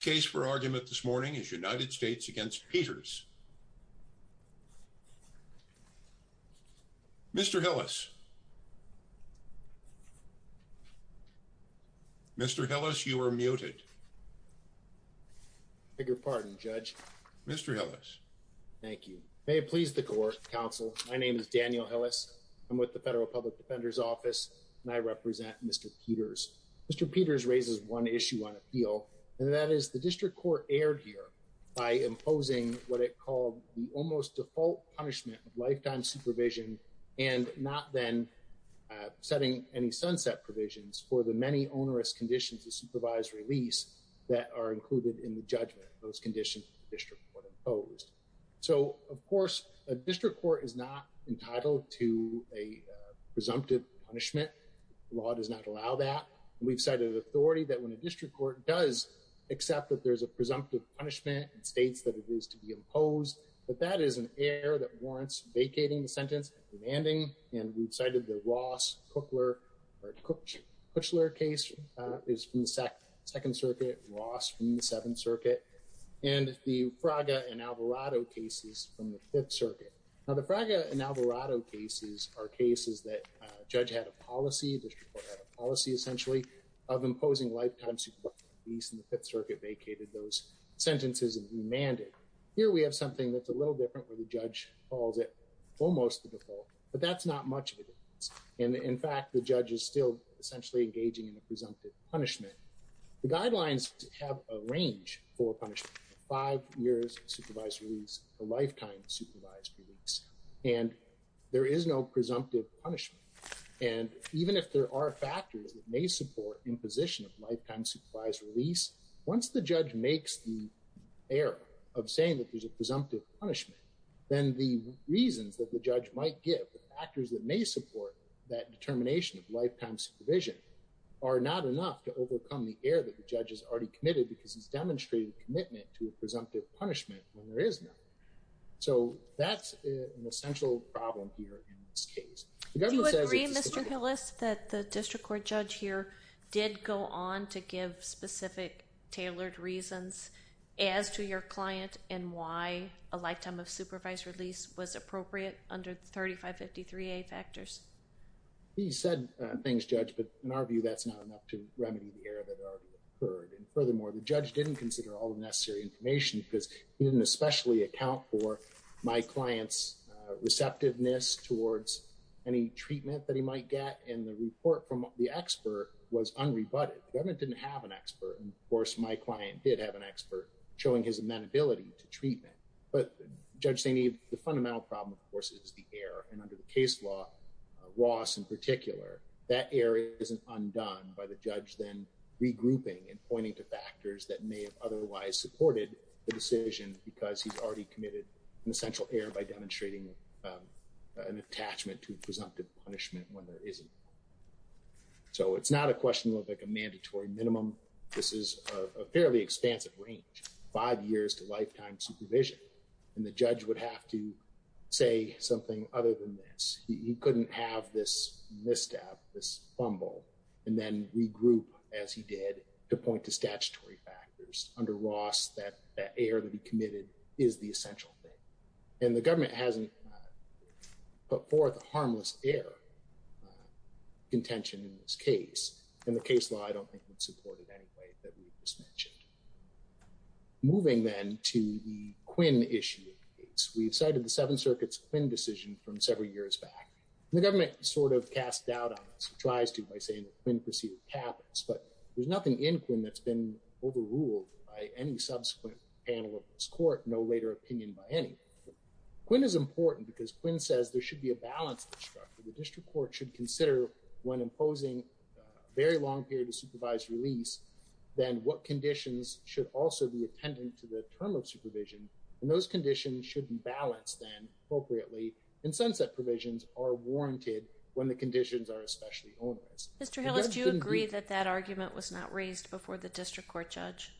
case for argument this morning is United States against Peters. Mr. Hillis. Mr. Hillis, you are muted. Bigger pardon, Judge. Mr. Ellis. Thank you. May it please the court counsel. My name is Daniel Hillis. I'm with the Federal Public Defender's Office, and I represent Mr. Peters. Mr. Peters raises one issue on appeal, and that is the district court erred here by imposing what it called the almost default punishment of lifetime supervision and not then setting any sunset provisions for the many onerous conditions of supervised release that are included in the judgment of those conditions district court imposed. So of course, a district court is not entitled to a presumptive punishment. Law does not allow that. We've cited authority that when a district court does accept that there's a presumptive punishment, it states that it is to be imposed. But that is an error that warrants vacating the sentence demanding, and we've cited the Ross Cookler or Coochler case is from the Second Circuit, Ross from the Seventh Circuit and the Fraga and Alvarado cases from the Fifth Circuit. Now, the Fraga and Alvarado cases are cases that judge had a policy district court had a policy essentially of imposing lifetime supervision release and the Fifth Circuit vacated those sentences and demanded. Here we have something that's a little different where the judge calls it almost the default, but that's not much of it. And in fact, the judge is still essentially engaging in a presumptive punishment. The guidelines have a range for punishment. Five years supervised release, a lifetime supervised release, and there is no presumptive punishment. And even if there are factors that may support imposition of lifetime supervised release, once the judge makes the error of saying that there's a presumptive punishment, then the reasons that the judge might give factors that may support that determination of lifetime supervision are not enough to overcome the error that the judge has already committed because he's demonstrated commitment to a presumptive punishment when there is an error. So that's an essential problem here in this case. Do you agree, Mr. Hillis, that the district court judge here did go on to give specific tailored reasons as to your client and why a lifetime of supervised release was appropriate under the 3553A factors? He said things, Judge, but in our view that's not enough to remedy the error that already occurred. And furthermore, the judge didn't consider all the necessary information because he didn't especially account for my client's receptiveness towards any treatment that he might get. And the report from the expert was unrebutted. The government didn't have an expert. Of course, my client did have an expert showing his amenability to treatment. But Judge Zaney, the fundamental problem, of course, is the error. And under the case law, Ross in particular, that error isn't undone by the judge then regrouping and pointing to factors that may have otherwise supported the decision because he's already committed an essential error by demonstrating an attachment to a presumptive punishment when there isn't. So it's not a question of like a mandatory minimum. This is a fairly expansive range, five years to lifetime supervision. And the judge would have to say something other than this. He couldn't have this misstep, this fumble, and then regroup as he did to point to statutory factors. Under Ross, that error that he committed is the essential thing. And the government hasn't put forth a harmless error contention in this case. And the case law, I don't think, would support it anyway that we just mentioned. Moving then to the Quinn issue. We've cited the government sort of cast doubt on us. It tries to by saying that Quinn perceived habits. But there's nothing in Quinn that's been overruled by any subsequent panel of this court, no later opinion by any. Quinn is important because Quinn says there should be a balanced structure. The district court should consider when imposing a very long period of supervised release, then what conditions should also be attendant to the term of supervision. And those conditions should be balanced then appropriately. And sunset provisions are warranted when the conditions are especially onerous. Mr. Hillis, do you agree that that argument was not raised before the district court judge?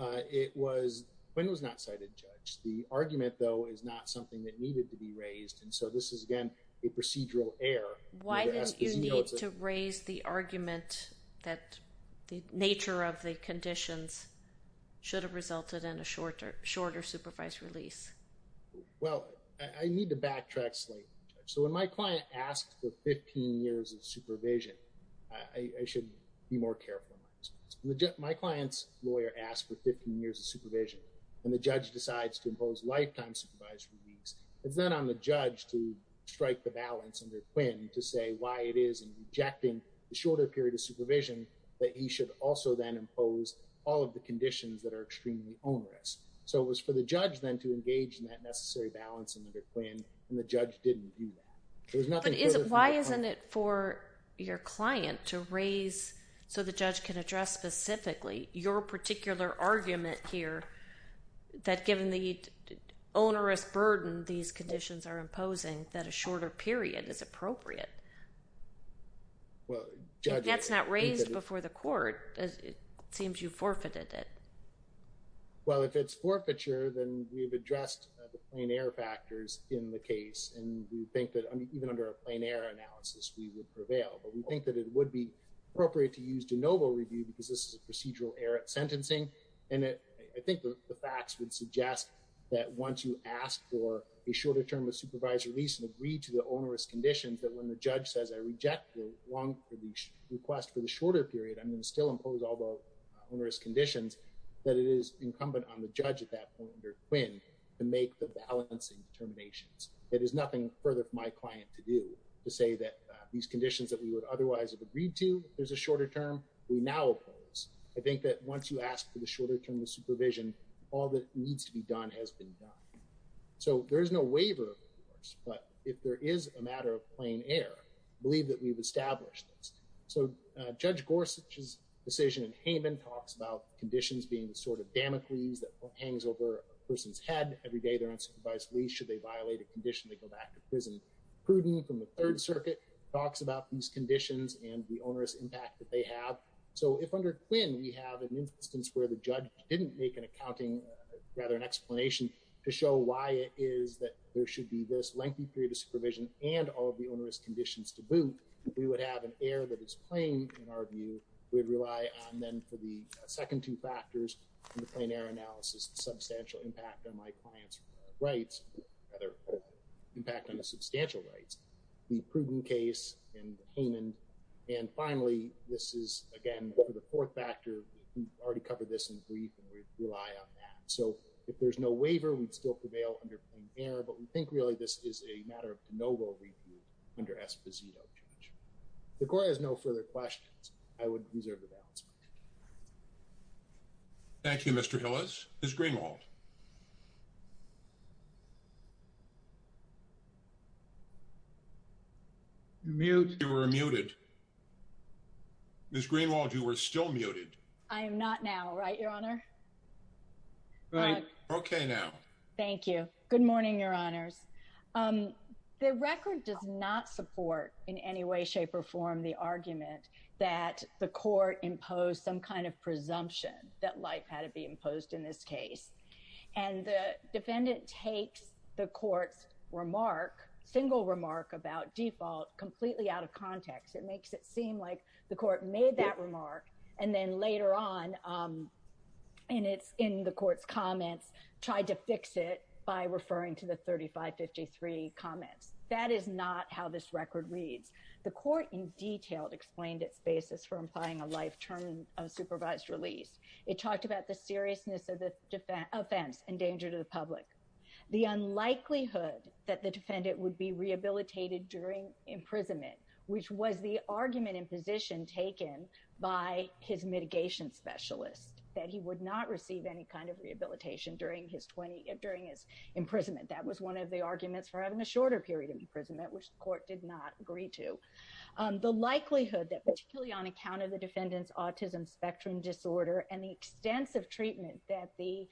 It was Quinn was not cited judge. The argument though is not something that needed to be raised. And so this is again, a procedural error. Why didn't you need to raise the argument that the nature of the conditions should have resulted in a shorter supervised release? Well, I need to backtrack slightly. So when my client asks for 15 years of supervision, I should be more careful. My client's lawyer asked for 15 years of supervision. And the judge decides to impose lifetime supervised release. It's not on the judge to strike the balance under Quinn to say why it is in rejecting the shorter period of supervision that he should also then impose all of the conditions that are extremely onerous. So it was for the judge then to engage in that necessary balance under Quinn and the judge didn't do that. Why isn't it for your client to raise so the judge can address specifically your particular argument here that given the onerous burden these conditions are imposing that a shorter period is appropriate? Well, that's not raised before the court. It seems you forfeited it. Well, if it's forfeiture, then we've addressed the plain error factors in the case. And we think that even under a plain error analysis, we would prevail. But we think that it would be appropriate to use de novo review because this is a procedural error at sentencing. And I think the facts would suggest that once you ask for a shorter term of supervised release and agree to the onerous conditions that when the judge says I reject the long request for the shorter period, I'm going to still impose all the onerous conditions that it is incumbent on the judge at that point under Quinn to make the balancing determinations. It is nothing further for my client to do to say that these conditions that we would otherwise have agreed to there's a shorter term of supervision, all that needs to be done has been done. So there is no waiver, of course, but if there is a matter of plain error, I believe that we've established this. So Judge Gorsuch's decision in Haman talks about conditions being the sort of damocles that hangs over a person's head every day they're unsupervised release should they violate a condition they go back to prison. Pruden from the Third Circuit talks about these conditions and the onerous instance where the judge didn't make an accounting rather an explanation to show why it is that there should be this lengthy period of supervision and all of the onerous conditions to boot. We would have an error that is plain in our view. We'd rely on then for the second two factors in the plain error analysis substantial impact on my client's rights rather impact on the substantial rights. The Pruden case and Haman and finally this is again for the fourth factor we've already covered this in brief and we rely on that. So if there's no waiver we'd still prevail under plain error but we think really this is a matter of de novo review under Esposito. The court has no further questions. I would reserve the balance. Thank you Mr. Hillis. Ms. Greenwald. You're muted. Ms. Greenwald you were still muted. I am not now right your honor. Right okay now. Thank you. Good morning your honors. The record does not support in any way shape or form the argument that the court imposed some kind of presumption that life had to be about default completely out of context. It makes it seem like the court made that remark and then later on and it's in the court's comments tried to fix it by referring to the 3553 comments. That is not how this record reads. The court in detail explained its basis for implying a life term of supervised release. It talked about the seriousness of the defense offense and danger to the public. The unlikelihood that the defendant would be rehabilitated during imprisonment which was the argument in position taken by his mitigation specialist that he would not receive any kind of rehabilitation during his 20 during his imprisonment. That was one of the arguments for having a shorter period of imprisonment which the court did not agree to. The likelihood that particularly on account of the defendant's autism spectrum disorder and the extensive treatment that the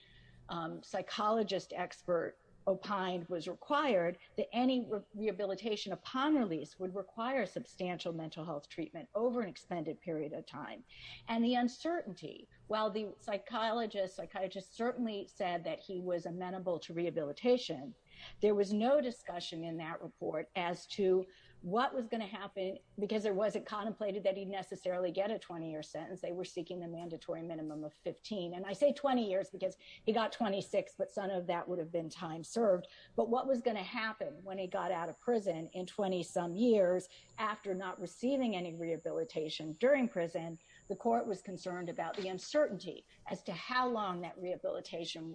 psychologist expert opined was required that any rehabilitation upon release would require substantial mental health treatment over an extended period of time. And the uncertainty while the psychologist psychiatrist certainly said that he was amenable to rehabilitation there was no discussion in that report as to what was going to happen because there wasn't contemplated that he'd necessarily get a 20-year sentence. They were seeking the mandatory minimum of 15 and I say 20 years because he got 26 but some of that would have been time served. But what was going to happen when he got out of prison in 20 some years after not receiving any rehabilitation during prison the court was concerned about the uncertainty as to how long that rehabilitation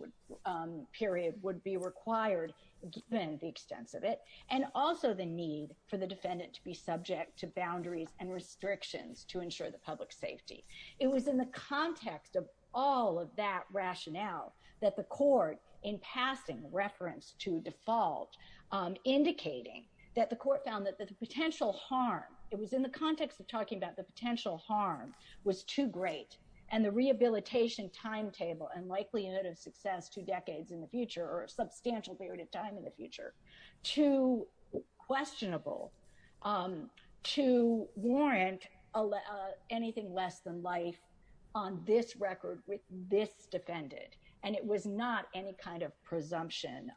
period would be required given the extensive it and also the need for the defendant to be subject to boundaries and restrictions to ensure the public safety. It was in the context of all of that rationale that the court in passing referenced to default indicating that the court found that the potential harm it was in the context of talking about the potential harm was too great and the rehabilitation timetable and likely unit of success two decades in the future or a substantial period of time in the future too questionable to warrant anything less than life on this record with this defendant and it was not any kind of presumption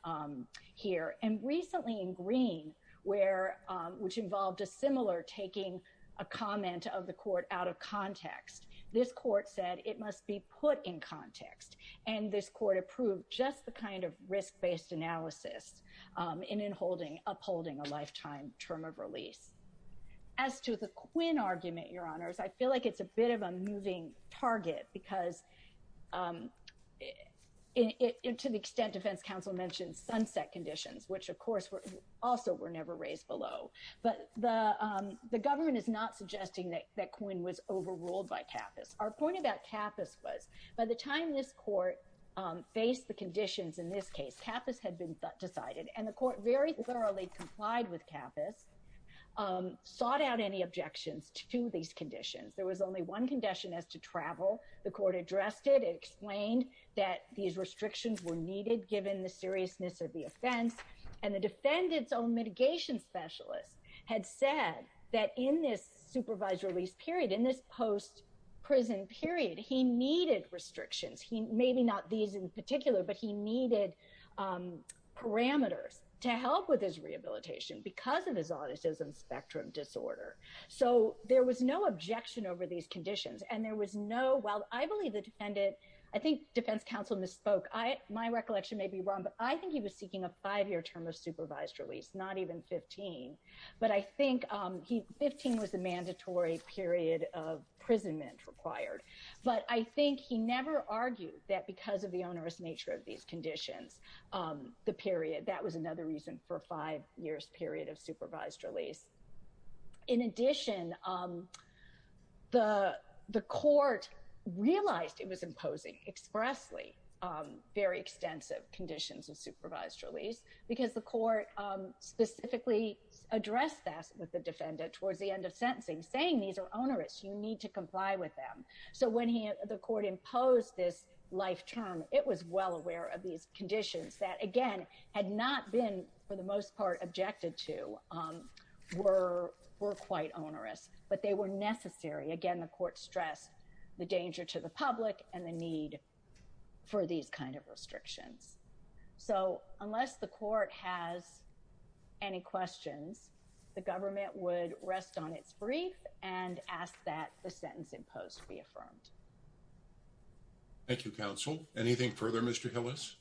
here and recently in green where which involved a similar taking a comment of the court out of context this court said it must be put in context and this court approved just the kind of risk-based analysis um in in holding upholding a lifetime term of release as to the Quinn argument your honors I feel like it's a bit of a moving target because um it to the extent defense counsel mentioned sunset conditions which of course were also were never raised below but the um the government is not suggesting that that was overruled by Kappas our point about Kappas was by the time this court faced the conditions in this case Kappas had been decided and the court very thoroughly complied with Kappas sought out any objections to these conditions there was only one condition as to travel the court addressed it explained that these restrictions were needed given the seriousness of the offense and the defendant's own mitigation specialist had said that in this supervised release period in this post-prison period he needed restrictions he maybe not these in particular but he needed um parameters to help with his rehabilitation because of his autism spectrum disorder so there was no objection over these conditions and there was no well I believe the defendant I think defense counsel misspoke I my recollection may be wrong but I think he was seeking a five-year term of supervised release not even 15 but I think um he 15 was a mandatory period of imprisonment required but I think he never argued that because of the onerous nature of these conditions um the period that was another reason for five years period of supervised release in addition um the the court realized it was imposing expressly um very extensive conditions of supervised release because the court um specifically addressed that with the defendant towards the end of sentencing saying these are onerous you need to comply with them so when he the court imposed this life term it was well aware of these conditions that again had not been for the most part objected to um were were quite onerous but they were necessary again the court stressed the danger to the public and the need for these kind of restrictions so unless the court has any questions the government would rest on its brief and ask that the sentence imposed be affirmed thank you counsel anything further mr hillis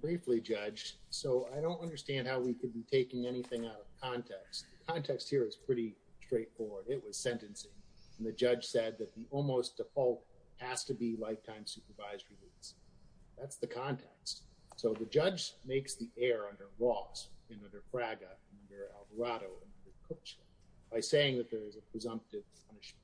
briefly judge so I don't understand how we could be taking anything out of context context here is pretty straightforward it was sentencing and the judge said that the almost default has to be lifetime supervised release that's the context so the judge makes the air under laws in under fraga under alvarado by saying that there is a presumptive punishment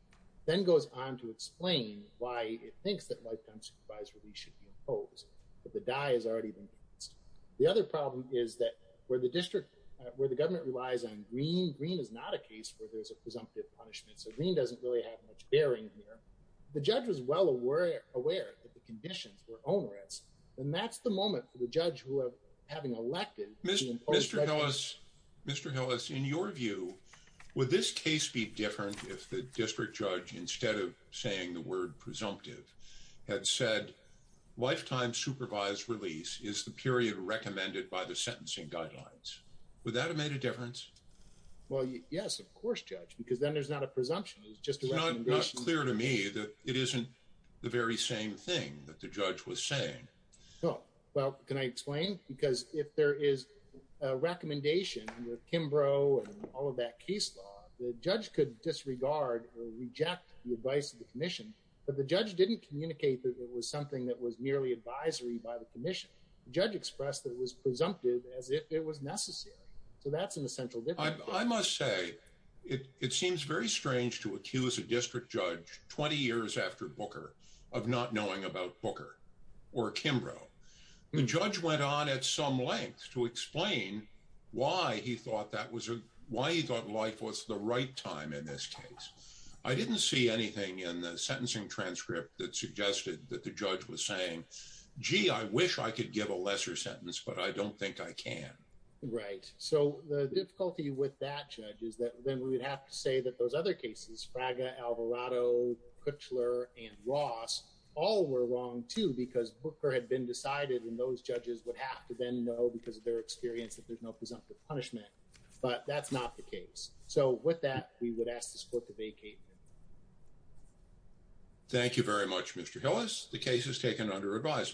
then goes on to explain why it thinks that lifetime supervised release should be imposed but the dye has already been used the other problem is that where the district where the government relies on green green is not a case where there's a green doesn't really have much bearing here the judge was well aware aware that the conditions were onerous and that's the moment for the judge who have having elected mr mr hillis mr hillis in your view would this case be different if the district judge instead of saying the word presumptive had said lifetime supervised release is the period recommended by the sentencing guidelines would that have made a difference well yes of course judge because then there's not a presumption it's just not clear to me that it isn't the very same thing that the judge was saying oh well can I explain because if there is a recommendation under kimbrough and all of that case law the judge could disregard or reject the advice of the commission but the judge didn't communicate that it was something that was merely advisory by the commission judge expressed that was presumptive as if it was necessary so that's an essential I must say it it seems very strange to accuse a district judge 20 years after booker of not knowing about booker or kimbrough the judge went on at some length to explain why he thought that was a why he thought life was the right time in this case I didn't see anything in the sentencing transcript that suggested that the judge was saying gee I wish I could give a lesser sentence but I don't think I can right so the difficulty with that judge is that then we would have to say that those other cases fraga alvarado kutcher and ross all were wrong too because booker had been decided and those judges would have to then know because of their experience that there's no presumptive punishment but that's not the case so with that we would ask the support to vacate thank you very much mr hillis the case is taken under advisement